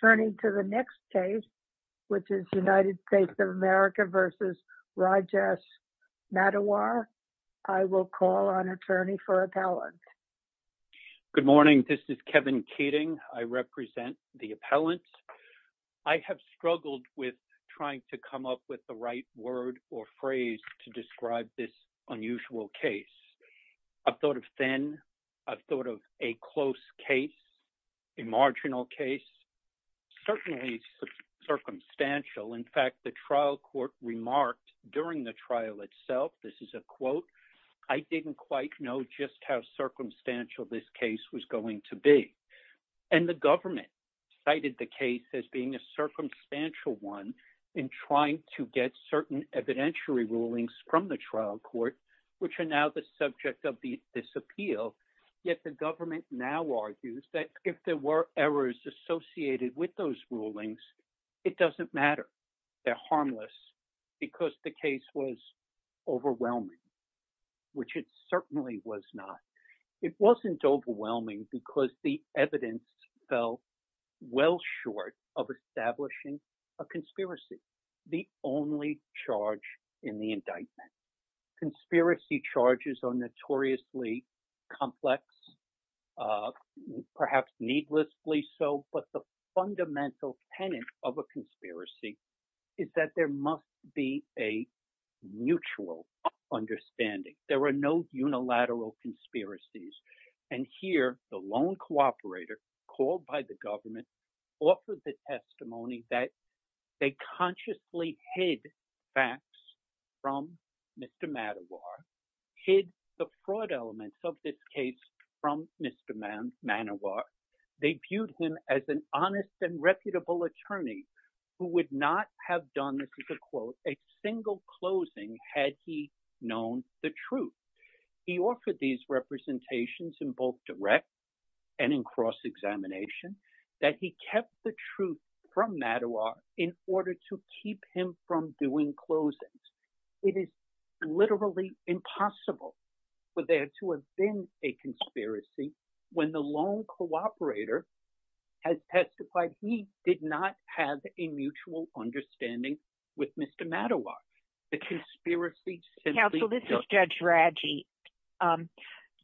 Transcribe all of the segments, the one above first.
Turning to the next case which is United States of America v. Rajesh Maddiwar. I will call on attorney for appellant. Good morning this is Kevin Keating. I represent the appellant. I have struggled with trying to come up with the right word or phrase to describe this unusual case. I've thought of thin, I've thought of a close case, a marginal case, certainly circumstantial. In fact the trial court remarked during the trial itself, this is a quote, I didn't quite know just how circumstantial this case was going to be. And the government cited the case as being a circumstantial one in trying to get certain evidentiary rulings from the trial court which are now the subject of this appeal. Yet the government now argues that if there were errors associated with those rulings it doesn't matter. They're harmless because the case was overwhelming which it certainly was not. It wasn't overwhelming because the evidence fell well short of establishing a conspiracy, the only charge in the indictment. Conspiracy charges are notoriously complex, perhaps needlessly so, but the fundamental tenet of a conspiracy is that there must be a mutual understanding. There are no unilateral conspiracies. And here the lone cooperator called by the government offered the testimony that they consciously hid facts from Mr. Manowar, hid the fraud elements of this case from Mr. Manowar. They viewed him as an honest and reputable attorney who would not have done, this is a quote, a single closing had he known the truth. He offered these representations in both direct and in cross-examination that he kept the truth from Manowar in order to keep him from doing closings. It is literally impossible for there to have been a conspiracy when the lone cooperator has testified he did not have a mutual understanding with Mr. Manowar. The conspiracy Counsel, this is Judge Raggi.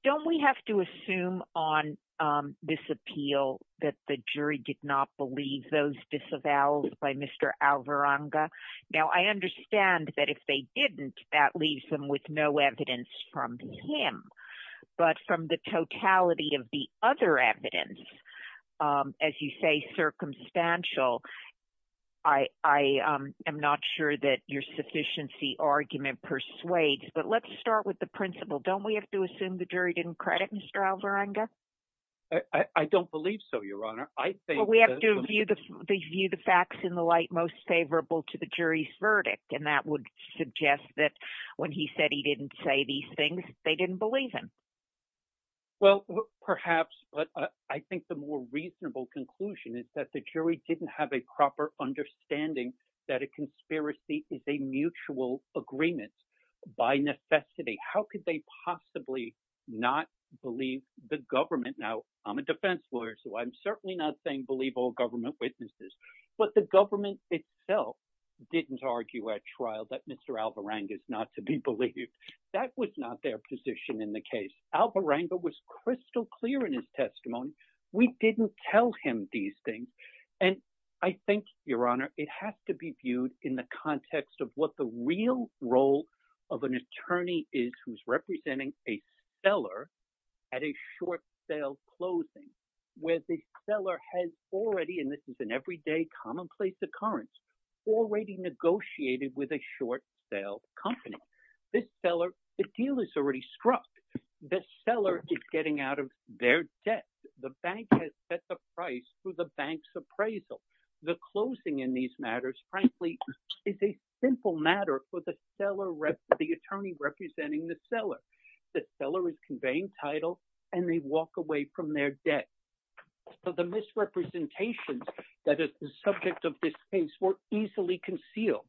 Don't we have to assume on this appeal that the jury did not believe those disavows by Mr. Alvaranga? Now, I understand that if they didn't, that leaves them with no evidence from him. But from the totality of the other evidence, as you say, circumstantial, I am not sure that your sufficiency argument persuades. But let's start with the principle. Don't we have to assume the jury didn't credit Mr. Alvaranga? I don't believe so, Your Honor. We have to view the facts in the light most favorable to the jury's verdict. And that would suggest that when he said he didn't say these things, they didn't believe him. Well, perhaps. But I think the more reasonable conclusion is that the jury didn't have a proper understanding that a conspiracy is a mutual agreement by necessity. How could they possibly not believe the government? Now, I'm a defense lawyer, so I'm certainly not saying believe all government witnesses. But the government itself didn't argue at trial that Mr. Alvaranga is not to be believed. That was not their position in the case. Alvaranga was crystal clear in his testimony. We didn't tell him these things. And I think, Your Honor, it has to be viewed in the context of what the real role of an attorney is who's representing a seller at a short sale closing, where the seller has already, and this is an everyday commonplace occurrence, already negotiated with a short sale company. This seller, the deal is already struck. The seller is getting out of their debt. The bank has set the price through the bank's appraisal. The closing in these matters, frankly, is a simple matter for the seller, the attorney representing the seller. The seller is conveying title and they walk away from their debt. So the misrepresentations that is the subject of this case were easily concealed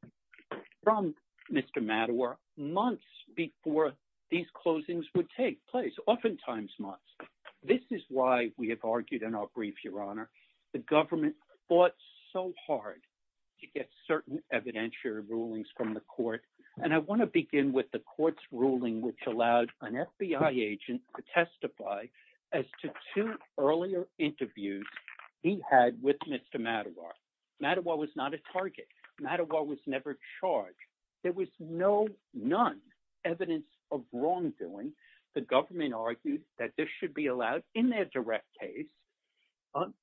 from Mr. Mattawar months before these closings would take place, oftentimes months. This is why we have argued in our brief, Your Honor, the government fought so hard to get certain evidentiary rulings from the court. And I want to begin with the court's ruling, which allowed an earlier interviews he had with Mr. Mattawar. Mattawar was not a target. Mattawar was never charged. There was no, none evidence of wrongdoing. The government argued that this should be allowed in their direct case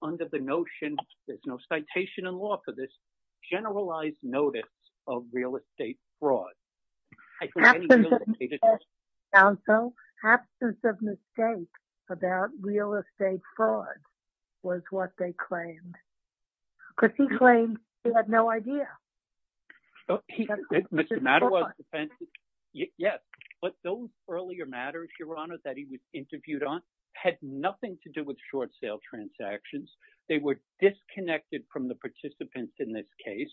under the notion, there's no citation in law for this, generalized notice of real estate fraud. Absence of mistake, counsel. Absence of mistake about real estate fraud was what they claimed. Because he claimed he had no idea. Mr. Mattawar's defense, yes, but those earlier matters, Your Honor, that he was interviewed on had nothing to do with short sale transactions. They were disconnected from the participants in this case.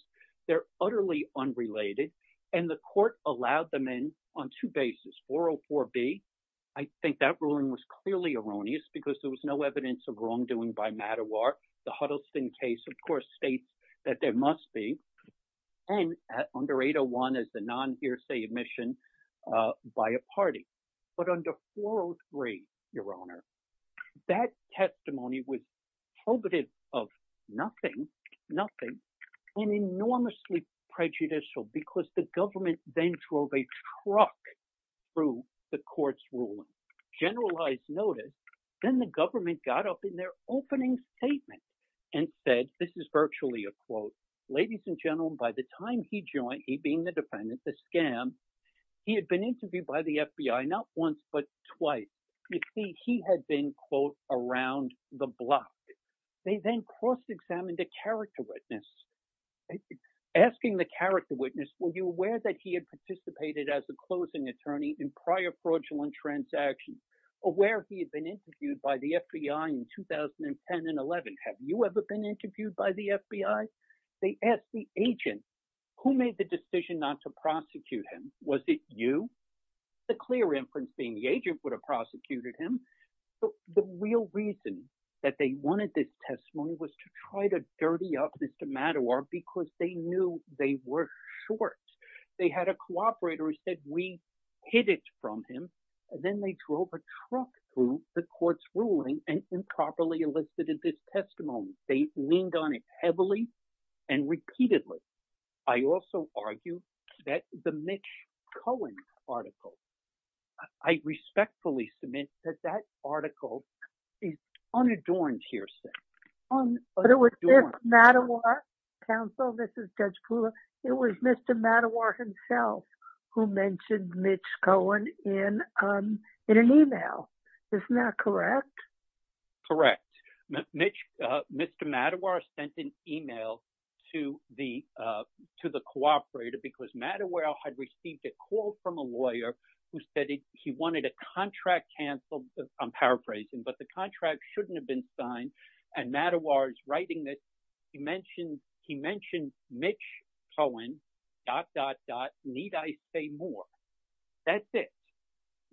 They're utterly unrelated. And the court allowed them in on two bases, 404B. I think that ruling was clearly erroneous because there was no evidence of wrongdoing by Mattawar. The Huddleston case, of course, states that there must be. And under 801 is the non hearsay admission by a party. But under 403, Your Honor, that testimony was prohibitive of nothing, nothing, and enormously prejudicial because the government then drove a truck through the court's ruling. Generalized notice. Then the government got up in their opening statement and said, this is virtually a quote, ladies and gentlemen, by the time he joined, he being the defendant, the scam, he had been interviewed by the FBI, not once, but twice. You see, he had been, quote, the block. They then cross-examined a character witness. Asking the character witness, were you aware that he had participated as a closing attorney in prior fraudulent transactions? Aware he had been interviewed by the FBI in 2010 and 11? Have you ever been interviewed by the FBI? They asked the agent, who made the decision not to prosecute him? Was it you? The clear inference being the agent would have prosecuted him. The real reason that they wanted this testimony was to try to dirty up Mr. Mattawar because they knew they were short. They had a cooperator who said, we hid it from him. And then they drove a truck through the court's ruling and improperly elicited this testimony. They leaned on it heavily and repeatedly. I also argue that the Mitch Cohen article, I respectfully submit that that article is unadorned here. But it was Mitch Mattawar, counsel, this is Judge Kula, it was Mr. Mattawar himself who mentioned Mitch Cohen in an email. Isn't that correct? Correct. Mr. Mattawar sent an email to the cooperator because Mattawar had received a call from a lawyer who said he wanted a contract canceled. I'm paraphrasing, but the contract shouldn't have been signed. And Mattawar is writing that he mentioned, he mentioned Mitch Cohen, dot, dot, dot, need I say more? That's it.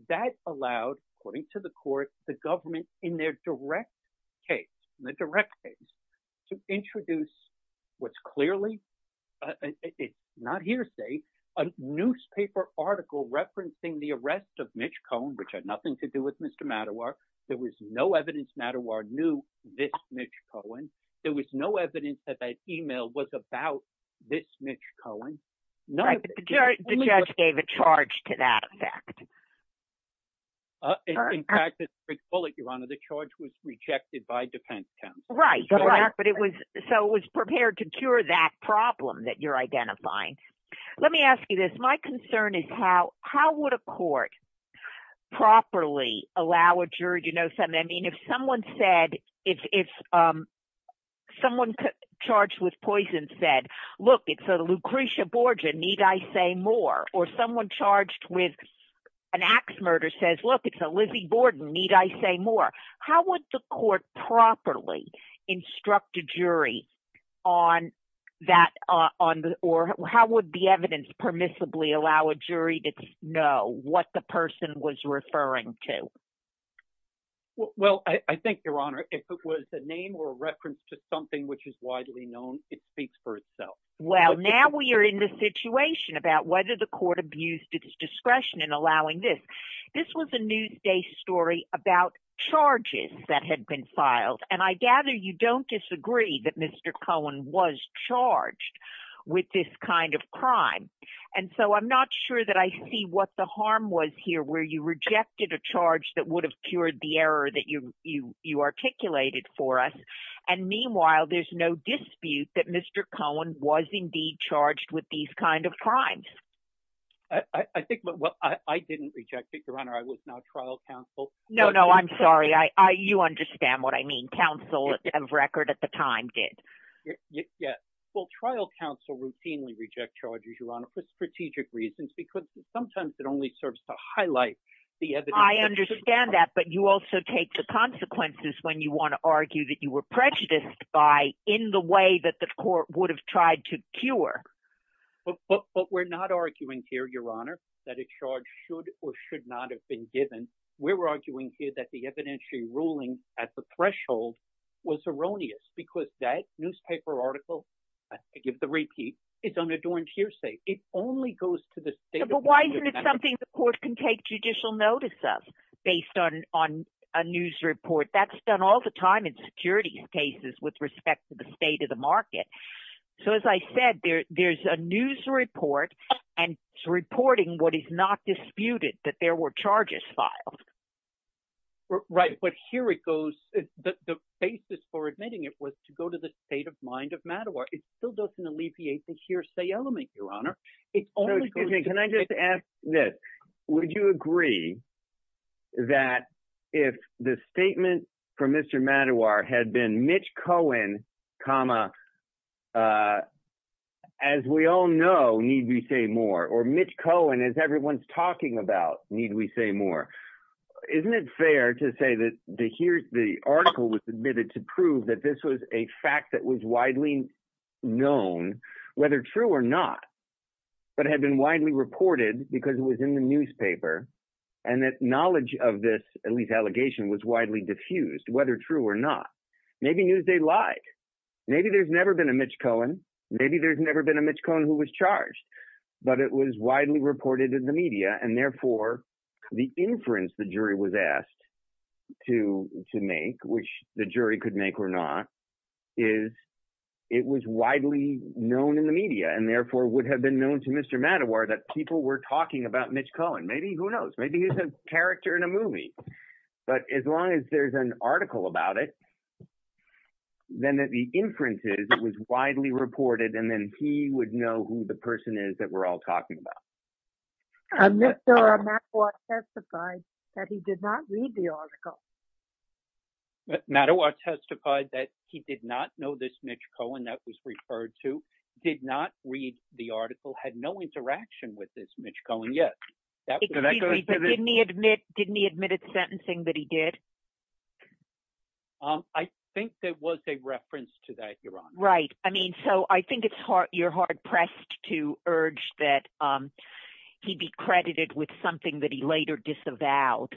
That allowed, according to the court, the government in their direct case, in the direct case, to introduce what's clearly, it's not hearsay, a newspaper article referencing the arrest of Mitch Cohen, which had nothing to do with Mr. Mattawar. There was no evidence Mattawar knew this Mitch Cohen. There was no evidence that that email was about this Mitch Cohen. The judge gave a charge to that effect. In fact, the charge was rejected by defense counsel. Right. But it was, so it was prepared to cure that problem that you're identifying. Let me ask you this. My concern is how, how would a court properly allow a jury to know something? I mean, if someone said, if someone charged with poison said, look, it's a Lucretia Borgia, need I say more? Or someone charged with an axe murder says, look, it's a Lizzie Borden, need I say more? How would the court properly instruct a jury on that? Or how would the evidence permissibly allow a jury to know what the person was referring to? Well, I think your honor, if it was a name or a reference to something which is widely known, it speaks for itself. Well, now we are in the situation about whether the court abused its This was a Newsday story about charges that had been filed. And I gather you don't disagree that Mr. Cohen was charged with this kind of crime. And so I'm not sure that I see what the harm was here, where you rejected a charge that would have cured the error that you articulated for us. And meanwhile, there's no dispute that Mr. Cohen was indeed charged with these kind of crimes. I think what I didn't reject it, your honor, I was not trial counsel. No, no, I'm sorry. I you understand what I mean. Council of record at the time did. Yes. Well, trial counsel routinely reject charges, your honor, for strategic reasons, because sometimes it only serves to highlight the evidence. I understand that. But you also take the consequences when you want to argue that you were prejudiced by in the way that the court would have tried to cure. But we're not arguing here, your honor, that a charge should or should not have been given. We're arguing here that the evidentiary ruling at the threshold was erroneous, because that newspaper article, I give the repeat, it's under Doran's hearsay, it only goes to this. But why isn't it something the court can take judicial notice of based on on a news report that's done all the time in security cases with respect to the state of market? So, as I said, there's a news report and reporting what is not disputed that there were charges filed. Right. But here it goes. The basis for admitting it was to go to the state of mind of Mattawa. It still doesn't alleviate the hearsay element, your honor. Can I just ask this? Would you agree that if the statement from Mr. Mattawa had been Mitch Cohen, comma, as we all know, need we say more or Mitch Cohen, as everyone's talking about, need we say more? Isn't it fair to say that the here's the article was submitted to prove that this was a fact that was widely known, whether true or not, but had been widely reported because it was in the newspaper, and that knowledge of this, at least allegation was widely diffused, whether true or not. Maybe Newsday lied. Maybe there's never been a Mitch Cohen. Maybe there's never been a Mitch Cohen who was charged, but it was widely reported in the media. And therefore, the inference the jury was asked to make, which the jury could make or not, is it was widely known in the media and therefore would have been known to Mr. Mattawa that people were talking about Mitch Cohen. Maybe who knows? Maybe he's a character in a movie. But as long as there's an article about it, then the inference is it was widely reported, and then he would know who the person is that we're all talking about. Mr. Mattawa testified that he did not read the article. Mattawa testified that he did not know this Mitch Cohen that was referred to, did not read the article, had no interaction with this Mitch Cohen yet. Excuse me, but didn't he admit, didn't he admit at sentencing that he did? I think there was a reference to that, Your Honor. Right. I mean, so I think it's hard, you're hard pressed to urge that he be credited with something that he later disavowed.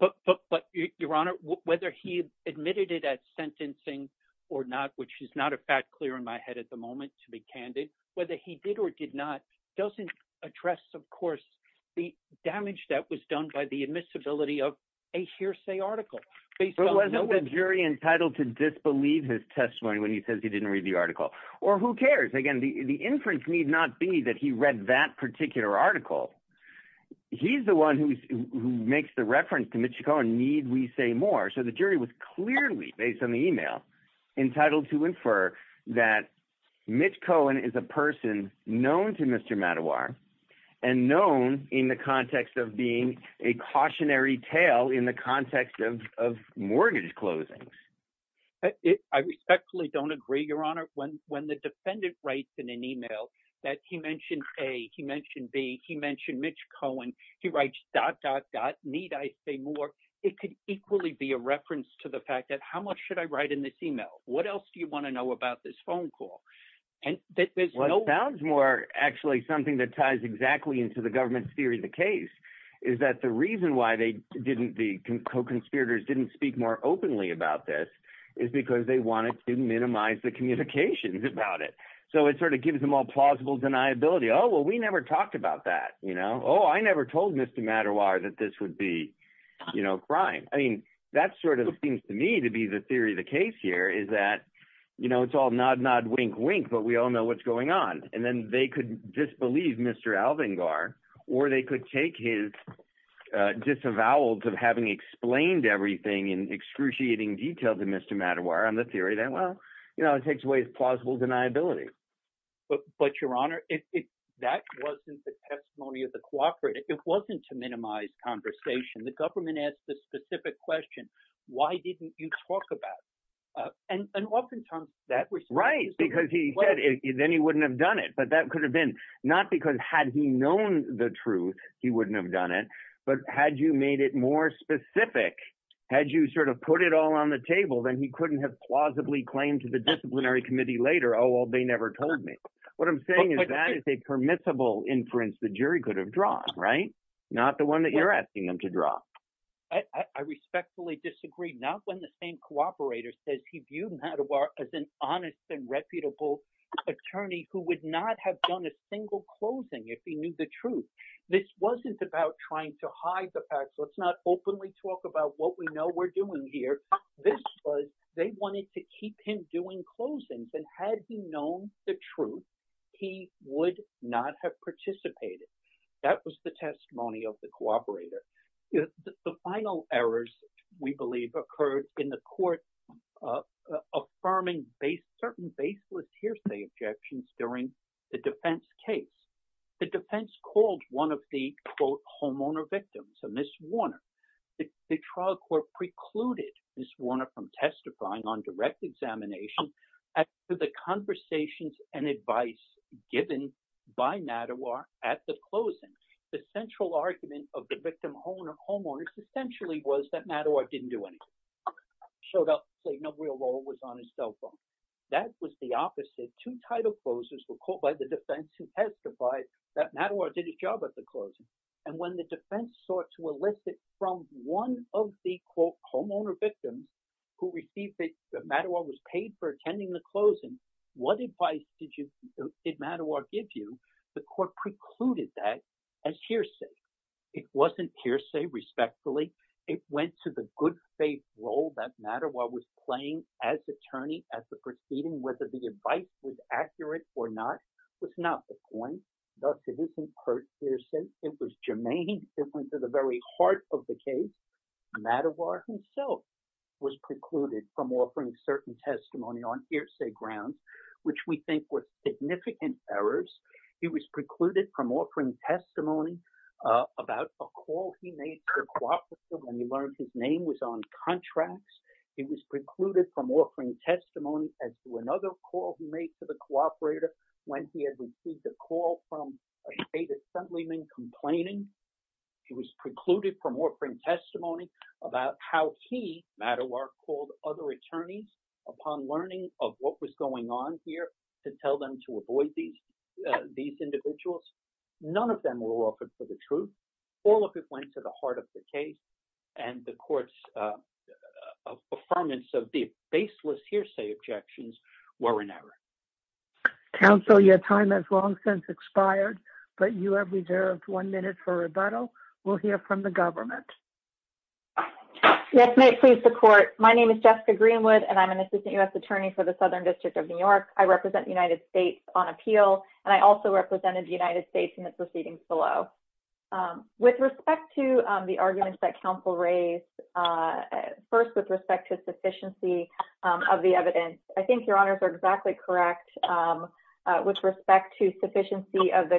But Your Honor, whether he admitted it at sentencing or not, which is not a fact clear in my head at the moment, to be candid, whether he did or did not doesn't address, of course, the damage that was done by the admissibility of a hearsay article. But wasn't the jury entitled to disbelieve his testimony when he says he didn't read the article? Or who cares? Again, the inference need not be that he read that particular article. He's the one who makes the reference to Mitch Cohen, need we say more? So the jury was clearly based on the email entitled to infer that Mitch Cohen is a person known to Mr. Mattawar and known in the context of being a cautionary tale in the context of mortgage closings. I respectfully don't agree, Your Honor. When the defendant writes in an email that he mentioned A, he mentioned B, he mentioned Mitch Cohen, he writes dot, dot, dot, need I say more? It could equally be a reference to the fact that how much should I write in this email? What else do you want to know about this phone call? And there's no- What sounds more actually something that ties exactly into the government's theory of the case is that the reason why the co-conspirators didn't speak more openly about this is because they wanted to minimize the communications about it. So it sort of gives them all plausible deniability. Oh, well, we never talked about that. Oh, I never told Mr. Mattawar that this would be, you know, crime. I mean, that sort of seems to me to be the theory of the case here is that, you know, it's all nod, nod, wink, wink, but we all know what's going on. And then they could disbelieve Mr. Alvingar or they could take his disavowals of having explained everything in excruciating detail to Mr. Mattawar on the theory that, well, you know, it takes away his plausible deniability. But Your Honor, that wasn't the testimony of the co-operative. It wasn't to minimize conversation. The government asked the specific question, why didn't you talk about it? And oftentimes- That's right, because he said then he wouldn't have done it. But that could have been not because had he known the truth, he wouldn't have done it. But had you made it more specific, had you sort of put it all on the table, then he couldn't have plausibly claimed to the disciplinary committee later, oh, well, they never told me. What I'm saying is that is a permissible inference the jury could have drawn, right? Not the one that you're asking them to draw. I respectfully disagree. Not when the same co-operator says he viewed Mattawar as an honest and reputable attorney who would not have done a single closing if he knew the truth. This wasn't about trying to hide the facts. Let's not openly talk about what we know we're doing here. This was they wanted to keep him doing closings. And had he known the truth, he would not have participated. That was the testimony of the co-operator. The final errors, we believe, occurred in the court affirming certain baseless hearsay objections during the defense case. The defense called one of the, quote, homeowner victims, a Miss Warner. The trial court precluded Miss Warner from testifying on direct examination to the conversations and advice given by Mattawar at the closing. The central argument of the victim homeowner essentially was that Mattawar didn't do anything, showed up, played no real role, was on his cell phone. That was the opposite. Two title closers were called by the defense to testify that Mattawar did his job at the closing. And when the defense sought to elicit from one of the, quote, homeowner victims who received that Mattawar was paid for attending the closing, what advice did Mattawar give you? The court precluded that as hearsay. It wasn't hearsay, respectfully. It went to the good faith role that Mattawar was playing as attorney at the proceeding, whether the advice was accurate or not was not the point. Thus, it isn't hearsay. It was germane. It went to the very heart of the case. Mattawar himself was precluded from offering certain testimony on hearsay grounds, which we think was significant errors. He was precluded from offering testimony about a call he made to the cooperator when he learned his name was on contracts. He was precluded from offering testimony as to another call he made to the cooperator when he had received a call from a state assemblyman complaining. He was precluded from offering testimony about how he, Mattawar, called other attorneys upon learning of what was going on here to tell them to avoid these individuals. None of them were offered for the truth. All of it went to the heart of the case. And the court's affirmance of the baseless hearsay objections were an error. Counsel, your time has long since expired, but you have reserved one minute for rebuttal. We'll hear from the government. Yes, may it please the court. My name is Jessica Greenwood, and I'm an assistant U.S. attorney for the Southern District of New York. I represent the United States on appeal, and I also represented the United States in the proceedings below. With respect to the arguments that counsel raised first with respect to sufficiency of the evidence, I think your honors are exactly correct with respect to sufficiency of the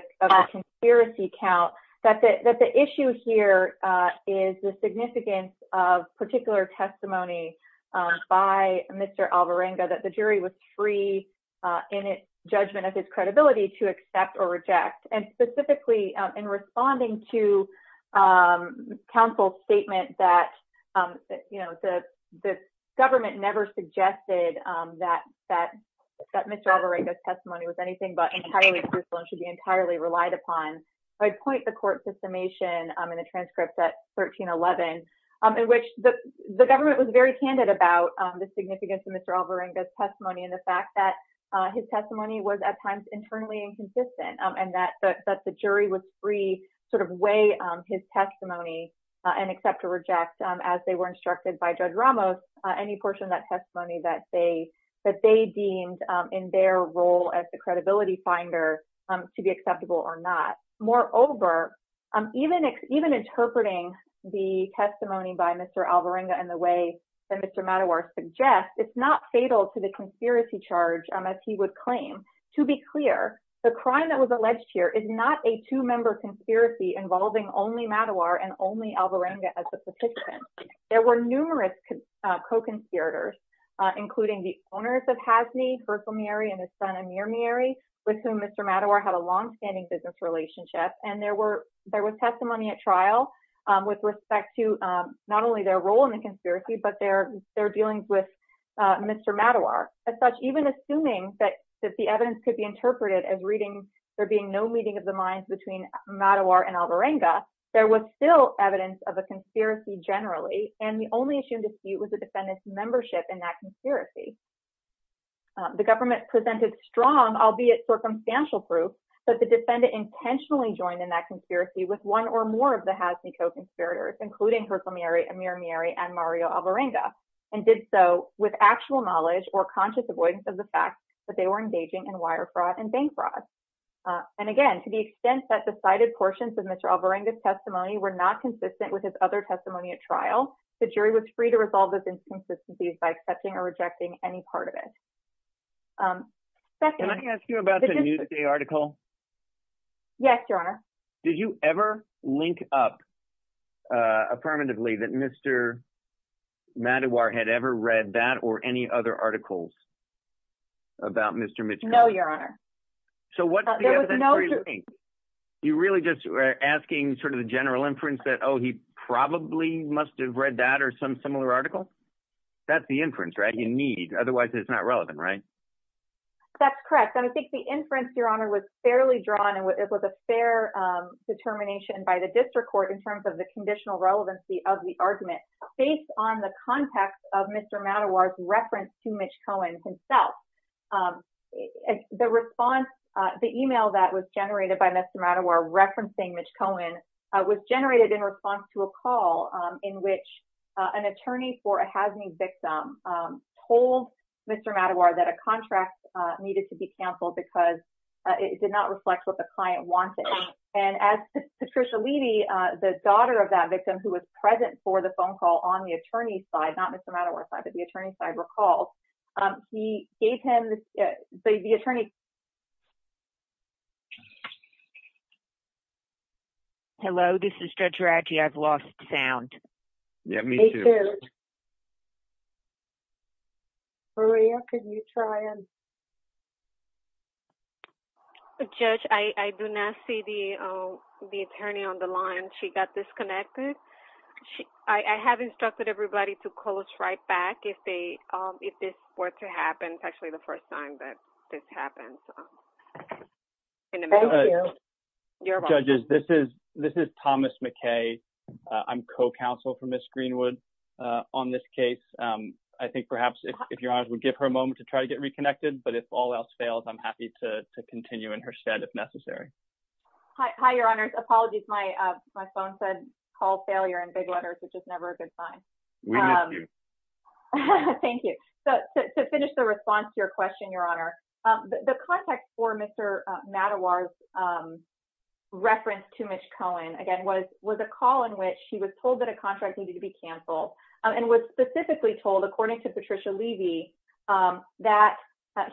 conspiracy count, that the issue here is the significance of particular testimony by Mr. Alvarenga that the jury was free in its judgment of his credibility to accept or reject, and specifically in responding to counsel's statement that the government never suggested that Mr. Alvarenga's testimony was anything but entirely truthful and should be entirely relied upon. I'd point the court to summation in the transcripts at 1311, in which the government was very candid about the significance of Mr. Alvarenga's testimony, that his testimony was at times internally inconsistent, and that the jury was free to weigh his testimony and accept or reject, as they were instructed by Judge Ramos, any portion of that testimony that they deemed in their role as the credibility finder to be acceptable or not. Moreover, even interpreting the testimony by Mr. Alvarenga in the way that Mr. Mattawar suggests, it's not fatal to the conspiracy charge, as he would claim. To be clear, the crime that was alleged here is not a two-member conspiracy involving only Mattawar and only Alvarenga as the participant. There were numerous co-conspirators, including the owners of Hasni, Berthelmeyeri, and his son Amirmeyeri, with whom Mr. Mattawar had a longstanding business relationship, and there was testimony at trial with respect to not only their role in the conspiracy, but their dealings with Mr. Mattawar. As such, even assuming that the evidence could be interpreted as reading there being no meeting of the minds between Mattawar and Alvarenga, there was still evidence of a conspiracy generally, and the only assumed dispute was the defendant's membership in that conspiracy. The government presented strong, albeit circumstantial proof, that the defendant intentionally joined in that conspiracy with one or more of the Alvarenga, and did so with actual knowledge or conscious avoidance of the fact that they were engaging in wire fraud and bank fraud. And again, to the extent that the cited portions of Mr. Alvarenga's testimony were not consistent with his other testimony at trial, the jury was free to resolve those inconsistencies by accepting or rejecting any part of it. Can I ask you about the Newsday article? Yes, Your Honor. Did you ever link up affirmatively that Mr. Mattawar had ever read that or any other articles about Mr. Mitchell? No, Your Honor. So what do you think? You really just were asking sort of the general inference that, oh, he probably must have read that or some similar article? That's the inference, right? You need, otherwise it's not relevant, right? That's correct. And I think the inference, Your Honor, was fairly drawn and it was a fair determination by the district court in terms of the conditional relevancy of the argument based on the context of Mr. Mattawar's reference to Mitch Cohen himself. The response, the email that was generated by Mr. Mattawar referencing Mitch Cohen was generated in response to a call in which an attorney for a HAZME victim told Mr. Mattawar that a contract needed to be canceled because it did not reflect what the client wanted. And as Patricia Levy, the daughter of that victim who was present for the phone call on the attorney's side, not Mr. Mattawar's side, but the attorney's side recalls, he gave him the attorney... Hello, this is Judge Raggi. I've lost sound. Yeah, me too. Maria, could you try and... Judge, I do not see the attorney on the line. She got disconnected. I have instructed everybody to call us right back if this were to happen. It's actually the first time that this happened. Thank you. Judges, this is Thomas McKay. I'm co-counsel for Ms. Greenwood on this case. I think perhaps if your honors would give her a moment to try to get reconnected, but if all else fails, I'm happy to continue in her stead if necessary. Hi, your honors. Apologies, my phone said call failure in big letters, which is never a good sign. Thank you. So to finish the response to your question, your honor, the context for Mr. Mattawar's reference to Mitch Cohen, again, was a call in which he was told that a contract needed to be canceled and was specifically told, according to Patricia Levy, that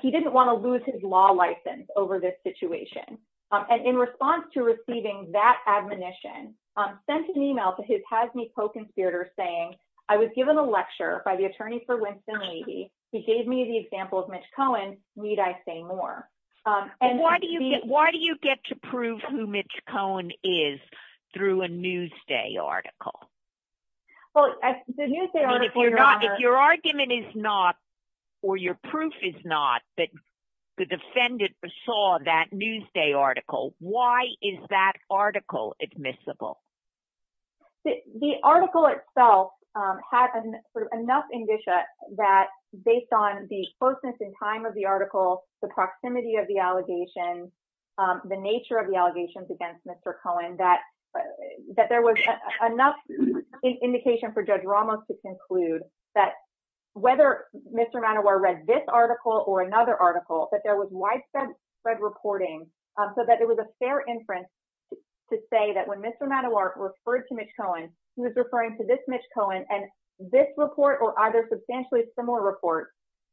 he didn't want to lose his law license over this situation. And in response to receiving that admonition, sent an email to his Hasme co-conspirator saying, I was given a lecture by the attorney for Winston Levy. He gave me the example of Mitch Cohen. Need I say more? Why do you get to prove who Mitch Cohen is through a Newsday article? If your argument is not or your proof is not that the defendant saw that Newsday article, why is that article admissible? The article itself had enough indicia that based on the closeness in time of the article, the proximity of the allegations, the nature of the allegations against Mr. Cohen, that there was enough indication for Judge Ramos to conclude that whether Mr. Mattawar read this article or another article, that there was reporting so that it was a fair inference to say that when Mr. Mattawar referred to Mitch Cohen, he was referring to this Mitch Cohen and this report or either substantially similar report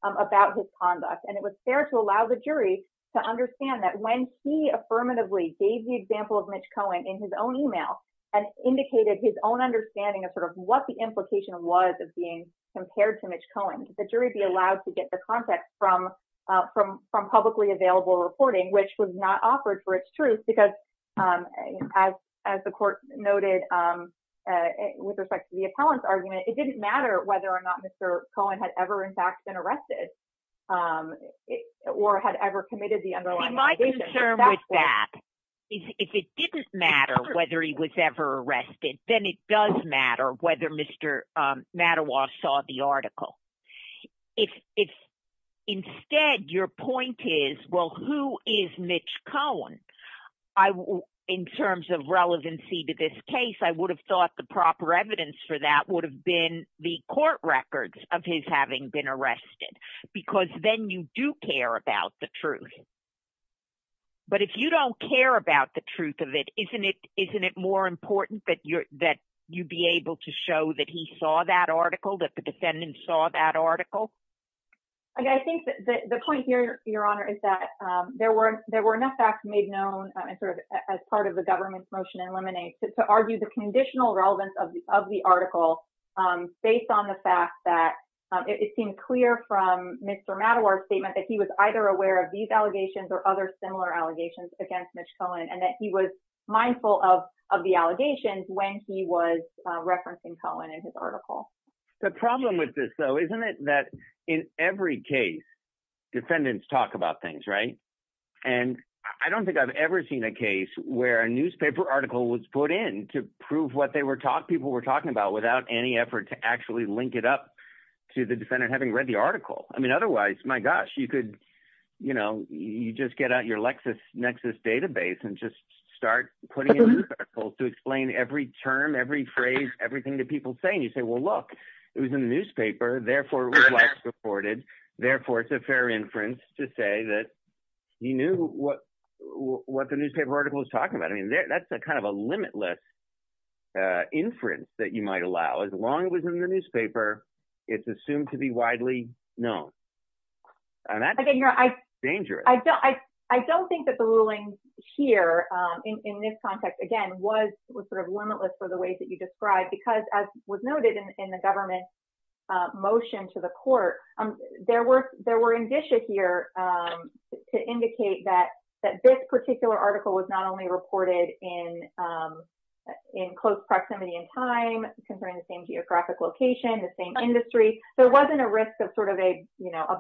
about his conduct. And it was fair to allow the jury to understand that when he affirmatively gave the example of Mitch Cohen in his own email and indicated his own understanding of sort of what the implication was of being compared to Mitch Cohen, the jury be allowed to get the reporting, which was not offered for its truth because as the court noted with respect to the appellant's argument, it didn't matter whether or not Mr. Cohen had ever in fact been arrested or had ever committed the underlying... My concern with that is if it didn't matter whether he was ever arrested, then it does matter whether Mr. Mattawar saw the article. If instead your point is, well, who is Mitch Cohen? In terms of relevancy to this case, I would have thought the proper evidence for that would have been the court records of his having been arrested because then you do care about the truth. But if you don't care about the truth of it, isn't it more important that you be able to show that he saw that article, that the defendant saw that article? I think that the point here, Your Honor, is that there were enough facts made known and sort of as part of the government's motion eliminates to argue the conditional relevance of the article based on the fact that it seemed clear from Mr. Mattawar's statement that he was either aware of these allegations or other similar allegations against Mitch Cohen and that he was mindful of the allegations when he was arrested. The problem with this, though, isn't it that in every case, defendants talk about things, right? And I don't think I've ever seen a case where a newspaper article was put in to prove what people were talking about without any effort to actually link it up to the defendant having read the article. I mean, otherwise, my gosh, you just get out your LexisNexis database and just start putting it in a circle to explain every term, every phrase, everything that people say. And you say, well, look, it was in the newspaper. Therefore, it was well-supported. Therefore, it's a fair inference to say that you knew what the newspaper article was talking about. I mean, that's a kind of a limitless inference that you might allow. As long as it was in the newspaper, it's assumed to be widely known. And that's dangerous. I don't think that the ruling here in this context, again, was sort of limitless for the ways that you described, because as was noted in the government motion to the court, there were indicia here to indicate that this particular article was not only reported in close proximity in time, concerning the same geographic location, the same industry. There wasn't a risk of sort of a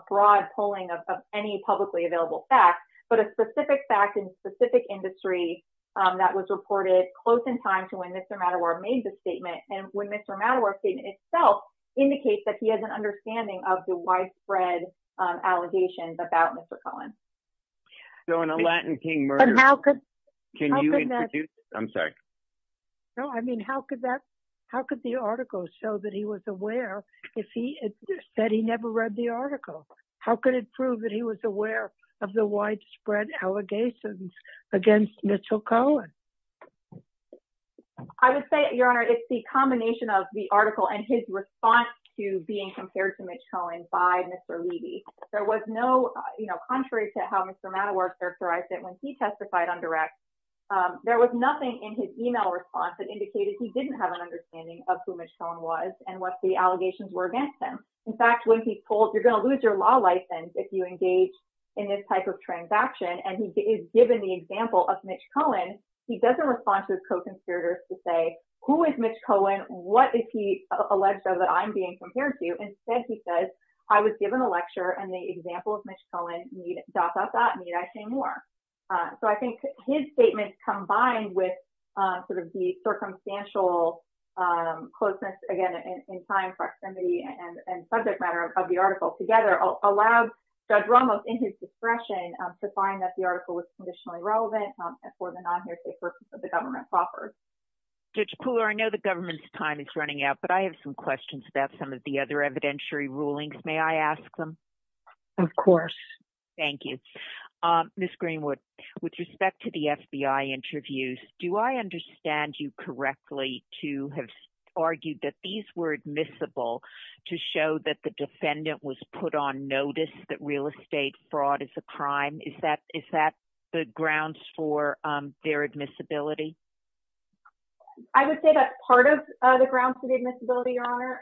broad polling of any publicly available facts, but a specific fact in specific industry that was when Mr. Mattaworth himself indicates that he has an understanding of the widespread allegations about Mr. Cohen. So in a Latin King murder, can you introduce, I'm sorry. No, I mean, how could that, how could the article show that he was aware if he said he never read the article? How could it prove that he was aware of the widespread allegations against Mitchell Cohen? I would say, Your Honor, it's the combination of the article and his response to being compared to Mitch Cohen by Mr. Levy. There was no, you know, contrary to how Mr. Mattaworth characterized it when he testified on direct, there was nothing in his email response that indicated he didn't have an understanding of who Mitch Cohen was and what the allegations were against him. In fact, when he's told you're going to lose your law license if you engage in this type of transaction, and he is given the example of Mitch Cohen, he doesn't respond to his co-conspirators to say, who is Mitch Cohen? What is he alleged of that I'm being compared to? Instead, he says, I was given a lecture and the example of Mitch Cohen, dot, dot, dot, need I say more? So I think his statements combined with sort of the circumstantial closeness, again, in time, proximity, and subject matter of the article together allowed Judge Ramos in his discretion to find that the article was conditionally relevant for the non-hearsay purpose of the government's offers. Judge Pooler, I know the government's time is running out, but I have some questions about some of the other evidentiary rulings. May I ask them? Of course. Thank you. Ms. Greenwood, with respect to the FBI interviews, do I understand you correctly to have argued that these were admissible to show that the is that the grounds for their admissibility? I would say that part of the grounds for the admissibility, Your Honor,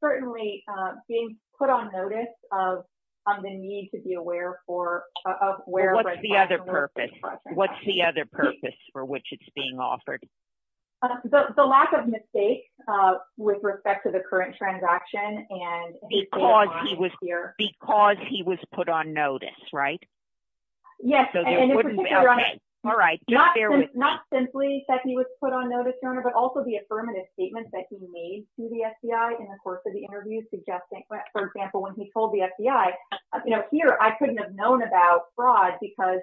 certainly being put on notice of the need to be aware of where... What's the other purpose? What's the other purpose for which it's being offered? The lack of mistakes with respect to the current transaction and... Because he was put on notice, right? Yes. Not simply that he was put on notice, Your Honor, but also the affirmative statements that he made to the FBI in the course of the interview, suggesting, for example, when he told the FBI, here, I couldn't have known about fraud because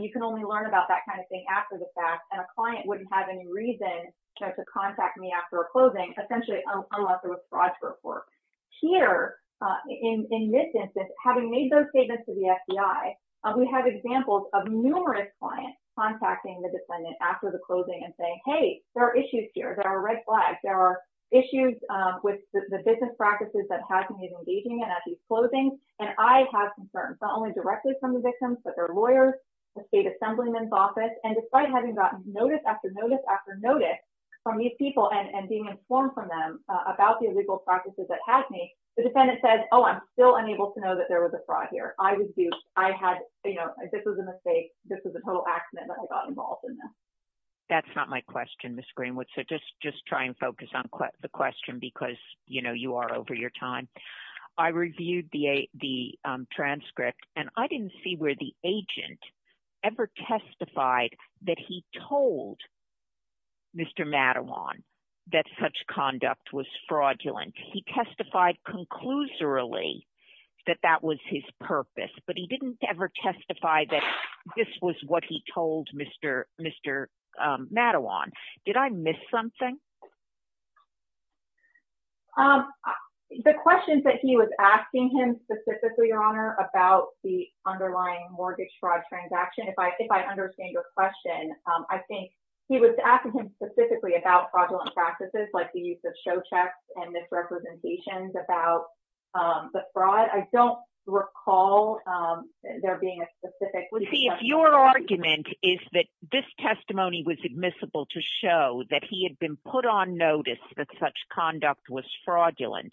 you can only learn about that kind of thing after the fact, and a client wouldn't have any reason to contact me after a closing, essentially, unless there was fraud to report. Here, in this instance, having made those statements to the FBI, we have examples of numerous clients contacting the defendant after the closing and saying, hey, there are issues here. There are red flags. There are issues with the business practices that have to be engaging at these closings, and I have concerns, not only directly from the victims, but their lawyers, the state assemblyman's office, and despite having gotten notice after about the illegal practices that had me, the defendant said, oh, I'm still unable to know that there was a fraud here. I was duped. This was a mistake. This was a total accident that I got involved in this. That's not my question, Ms. Greenwood, so just try and focus on the question because you are over your time. I reviewed the transcript, and I didn't see where the agent ever testified that he told Mr. Madawan that such conduct was fraudulent. He testified conclusorily that that was his purpose, but he didn't ever testify that this was what he told Mr. Madawan. Did I miss something? The questions that he was asking him specifically, about the underlying mortgage fraud transaction, if I understand your question, I think he was asking him specifically about fraudulent practices, like the use of show checks and misrepresentations about the fraud. I don't recall there being a specific- Your argument is that this testimony was admissible to show that he had been put on that such conduct was fraudulent.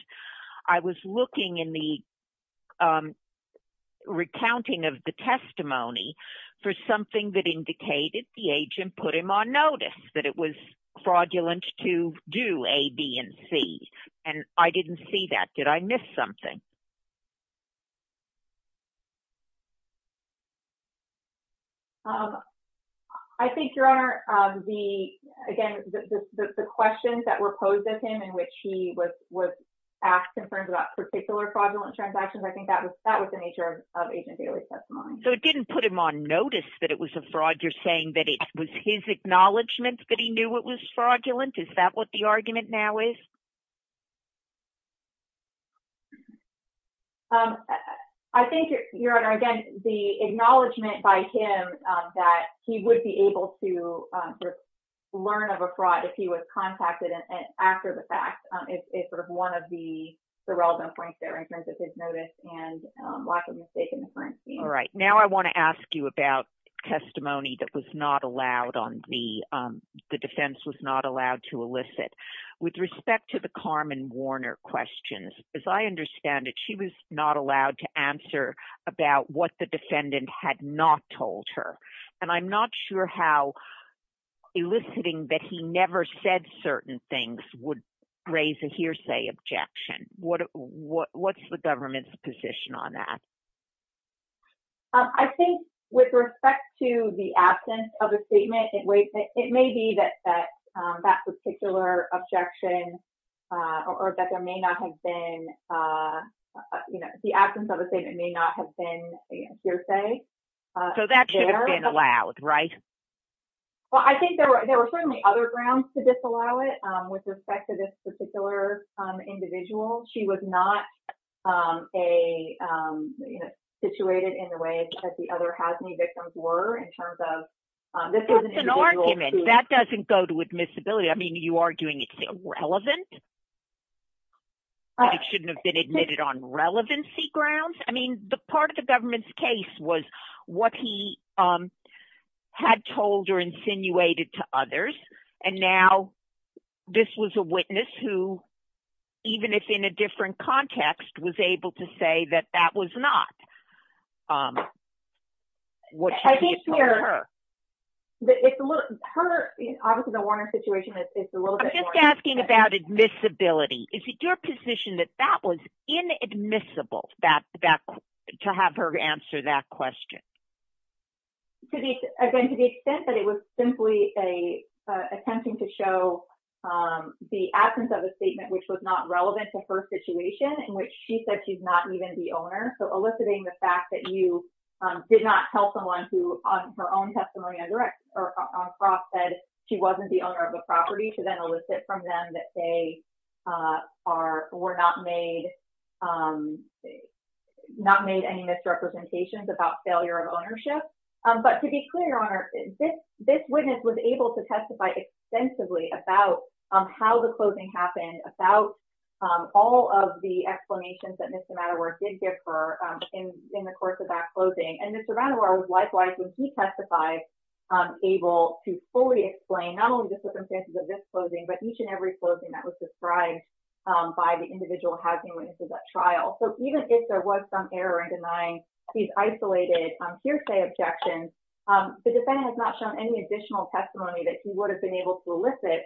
I was looking in the recounting of the testimony for something that indicated the agent put him on notice that it was fraudulent to do A, B, and C, and I didn't see that. Did I miss something? I think, Your Honor, again, the questions that were posed at him in which he was asked in terms of that particular fraudulent transaction, I think that was the nature of Agent Bailey's testimony. It didn't put him on notice that it was a fraud. You're saying that it was his acknowledgment that he knew it was fraudulent? Is that what the argument now is? I think, Your Honor, again, the acknowledgment by him that he would be able to learn of a fraud if he was contacted after the fact is sort of one of the relevant points there in terms of his notice and lack of mistake in the forensic team. All right. Now I want to ask you about testimony that was not allowed on B, the defense was not allowed to elicit. With respect to the Carmen Warner questions, as I understand it, she was not allowed to answer about what the defendant had not told her, and I'm not sure how eliciting that he never said certain things would raise a hearsay objection. What's the government's position on that? I think with respect to the absence of a statement, it may be that that particular objection or that there may not have been, you know, the absence of a statement may not have been a hearsay. So that should have been allowed, right? Well, I think there were certainly other grounds to disallow it. With respect to this particular individual, she was not a situated in the way that the other housing victims were in terms of this is an argument that doesn't go to admissibility. I mean, you are doing it's irrelevant. I shouldn't have been admitted on relevancy grounds. I mean, the part of the government's case was what he had told or insinuated to others. And now this was a witness who, even if in a different context, was able to say that that was not what she had told her. Her, obviously, the Warner situation is a little bit more... I'm just asking about admissibility. Is it your position that that was inadmissible to have her answer that question? Again, to the extent that it was simply attempting to show the absence of a statement, which was not relevant to her situation, in which she said she's not even the owner. So eliciting the fact that you did not tell someone who on her own testimony on cross said she wasn't the owner of the property to then elicit from them that they were not made, not made any misrepresentations about failure of ownership. But to be clear, Your Honor, this witness was able to testify extensively about how the closing happened, about all of the explanations that Mr. Mattawar did give her in the course of that closing. And Mr. Mattawar was likewise, when he testified, able to fully explain not only the circumstances of this closing, but each and every closing that was described by the individual housing witnesses at trial. So even if there was some error in denying these isolated hearsay objections, the defendant has not shown any additional testimony that he would have been able to elicit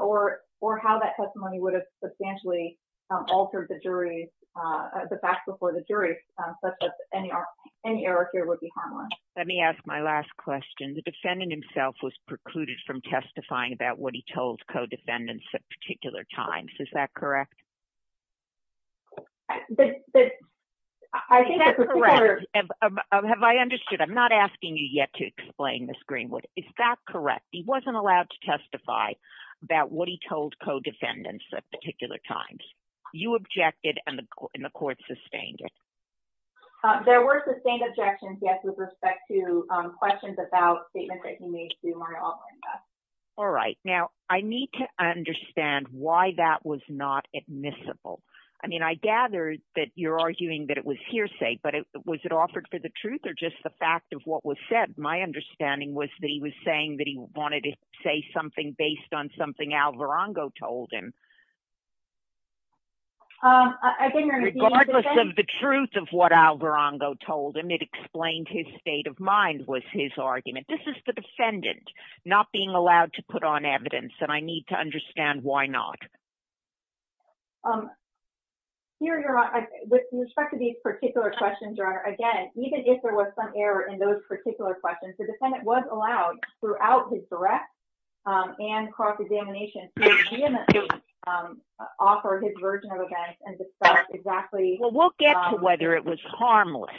or how that testimony would have substantially altered the jury's... the facts before the jury, such that any error here would be harmless. Let me ask my last question. The defendant himself was precluded from testifying about what he told co-defendants at particular times. Is that correct? I think that's correct. Have I understood? I'm not asking you yet to explain, Ms. Greenwood. Is that correct? He wasn't allowed to testify about what he told co-defendants at particular times. You objected and the court sustained it. There were sustained objections, yes, with respect to questions about statements that he made through my online desk. All right. Now, I need to understand why that was not admissible. I mean, I gather that you're arguing that it was hearsay, but was it offered for the truth or just the fact of what was said? My understanding was that he was saying that he wanted to say something based on something Alvarongo told him. Regardless of the truth of what Alvarongo told him, it explained his state of mind was his argument. This is the defendant not being allowed to put on evidence, and I need to understand why not. With respect to these particular questions, Your Honor, again, even if there was some error in those particular questions, the defendant was allowed throughout his direct and cross-examination to offer his version of events and discuss exactly— We'll get to whether it was harmless.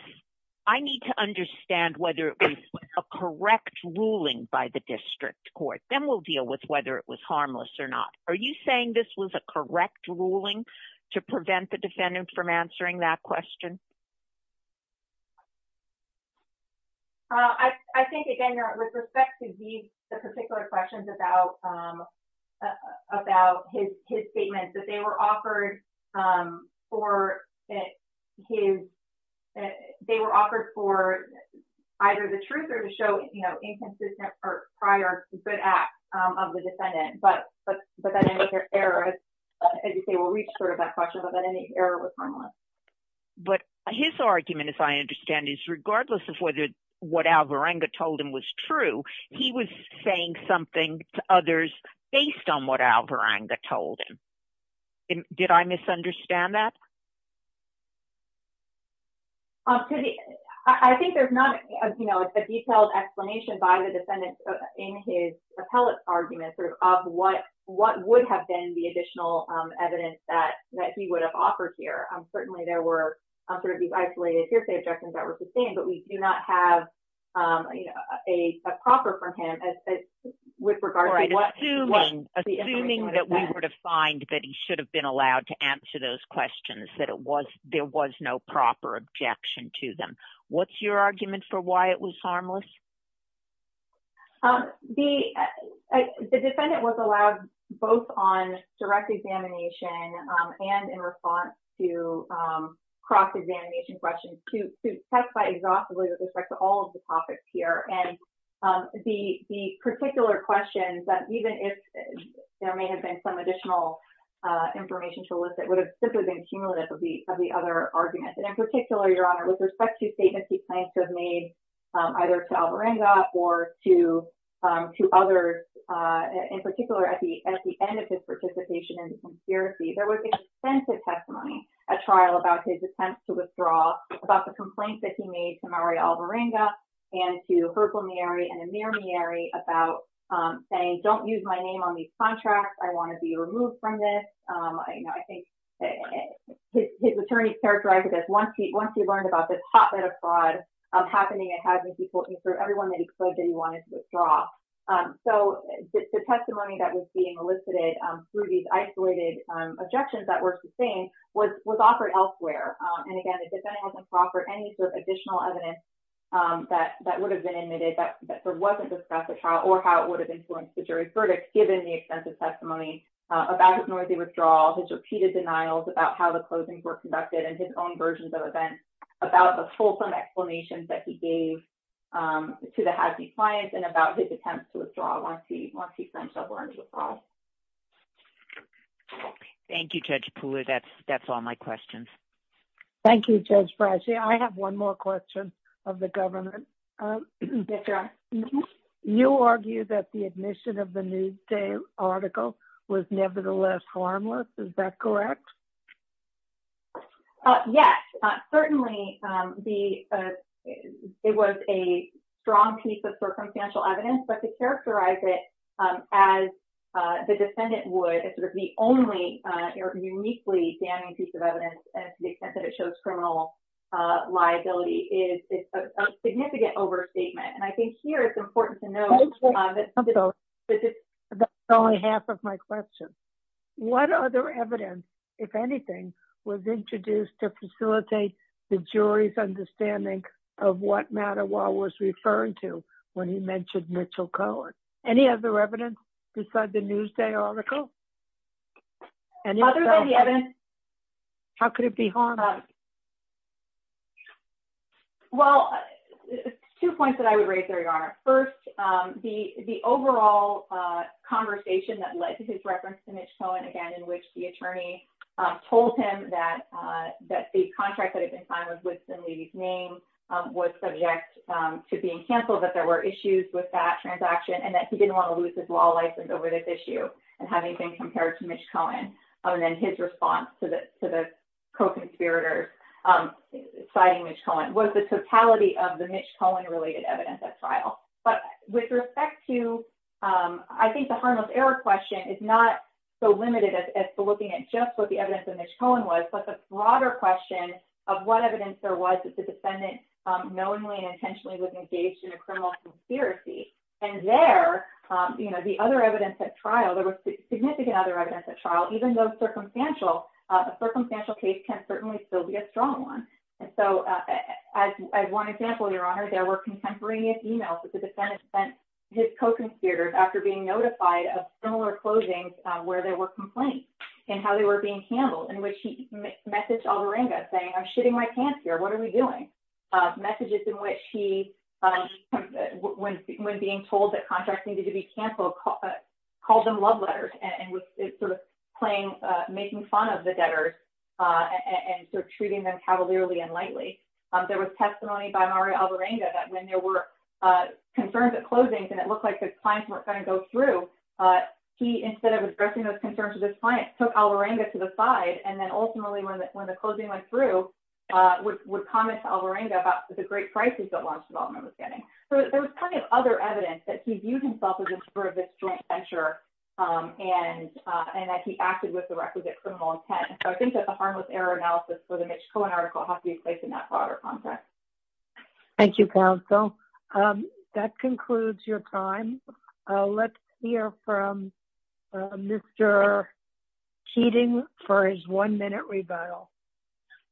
I need to understand whether it was a correct ruling by the district court. Then we'll deal with whether it was harmless or not. Are you saying this was a correct ruling to prevent the defendant from answering that question? I think, again, Your Honor, with respect to these particular questions about about his statements, that they were offered for either the truth or to show inconsistent or prior good acts of the defendant, but that any other error, as you say, will reach sort of that question, but that any error was harmless. His argument, as I understand it, is regardless of whether what Alvarongo told him was true, he was saying something to others based on what Alvarongo told him. Did I misunderstand that? I think there's not a detailed explanation by the defendant in his appellate argument of what would have been the additional evidence that he would have offered here. Certainly, there were isolated hearsay objections that were sustained, but we do not have a proper from him with regard to what— Assuming that we were to find that he should have been allowed to answer those questions, that there was no proper objection to them, what's your argument for why it was harmless? The defendant was allowed both on direct examination and in response to cross-examination questions to testify exhaustively with respect to all of the topics here. The particular questions that even if there may have been some additional information to elicit would have simply been cumulative of the other arguments. In particular, Your Honor, with respect to statements he claims have made either to Alvarongo or to others, in particular, at the end of his participation in the conspiracy, there was extensive testimony at trial about his attempts to withdraw, about the complaints that he made to Mario Alvarongo and to Hercule Miri and Amir Miri about saying, don't use my name on these contracts. I want to be removed from this. His attorney characterized it as once he learned about this hotbed of fraud happening and having people— everyone that he claimed that he wanted to withdraw. So, the testimony that was being elicited through these isolated objections that were sustained was offered elsewhere. And again, the defendant wasn't offered any sort of additional evidence that would have been admitted, that there wasn't discussed at trial or how it would have influenced the jury's verdict, given the extensive testimony about his noisy withdrawal, his repeated denials about how the own versions of events, about the fulsome explanations that he gave to the Hathi clients and about his attempts to withdraw once he claims Alvarongo's fraud. Thank you, Judge Pooler. That's all my questions. Thank you, Judge Brashy. I have one more question of the government. You argue that the admission of the Newsday article was nevertheless harmless. Is that correct? Yes. Certainly, it was a strong piece of circumstantial evidence, but to characterize it as the defendant would, as the only uniquely damning piece of evidence, to the extent that it shows criminal liability, is a significant overstatement. And I think here it's important to note— That's only half of my question. What other evidence, if anything, was introduced to facilitate the jury's understanding of what Matt Awa was referring to when he mentioned Mitchell Cohen? Any other evidence besides the Newsday article? Other than the evidence— How could it be harmless? Well, two points that I would raise there, Your Honor. First, the overall conversation that led to his reference to Mitch Cohen, again, in which the attorney told him that the contract that had been signed was Woodson-Levy's name, was subject to being canceled, that there were issues with that transaction, and that he didn't want to lose his law license over this issue, and having been compared to Mitch Cohen. And then his response to the co-conspirators citing Mitch Cohen was the totality of the Mitch Cohen-related evidence at trial. But with respect to— I think the error question is not so limited as to looking at just what the evidence of Mitch Cohen was, but the broader question of what evidence there was that the defendant knowingly and intentionally was engaged in a criminal conspiracy. And there, the other evidence at trial, there was significant other evidence at trial, even though a circumstantial case can certainly still be a strong one. And so, as one example, Your Honor, there were contemporaneous emails that the defendant sent his co-conspirators after being notified of similar closings where there were complaints, and how they were being handled, in which he messaged Alvarenga, saying, I'm shitting my pants here. What are we doing? Messages in which he, when being told that contracts needed to be canceled, called them love letters, and was sort of playing, making fun of the debtors, and sort of treating them cavalierly and lightly. There was testimony by Mario Alvarenga that when there were concerns at closings, and it looked like his clients weren't going to go through, he, instead of addressing those concerns with his clients, took Alvarenga to the side, and then ultimately, when the closing went through, would comment to Alvarenga about the great crisis that launch development was getting. So, there was plenty of other evidence that he viewed himself as a sort of a joint venture, and that he acted with the requisite criminal intent. So, I think that the harmless error analysis for the Mitch Cohen article has to be placed in that broader context. Thank you, counsel. That concludes your time. Let's hear from Mr. Keating for his one-minute rebuttal.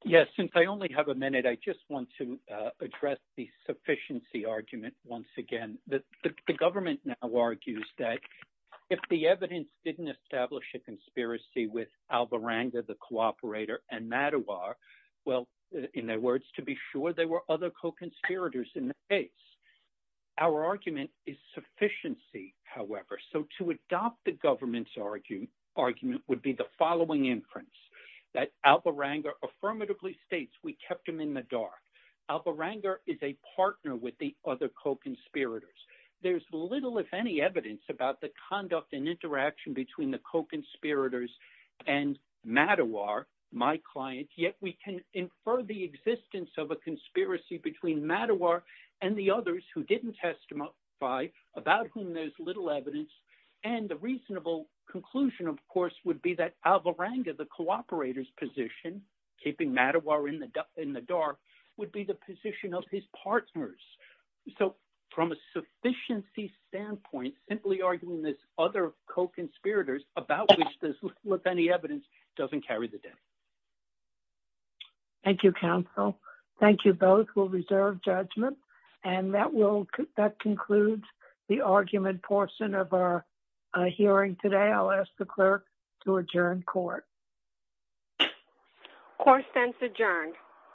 Yes, since I only have a minute, I just want to address the sufficiency argument once again. The government now argues that if the evidence didn't establish a conspiracy with Alvarenga, the cooperator, and Madowar, well, in their words, to be sure there were other co-conspirators in the case. Our argument is sufficiency, however. So, to adopt the government's argument would be the following inference, that Alvarenga affirmatively states, we kept him in the dark. Alvarenga is a partner with the other co-conspirators. There's little, if any, evidence about the conduct and interaction between the co-conspirators and Madowar, my client, yet we can infer the existence of a conspiracy between Madowar and the others who didn't testify, about whom there's little evidence. And the reasonable conclusion, of course, would be that Alvarenga, the cooperator's position, keeping Madowar in the dark would be the position of his partners. So, from a sufficiency standpoint, simply arguing this other co-conspirators about which there's little, if any, evidence doesn't carry the day. Thank you, counsel. Thank you both. We'll reserve judgment. And that concludes the argument portion of our hearing today. I'll ask the clerk to adjourn court. Court stands adjourned.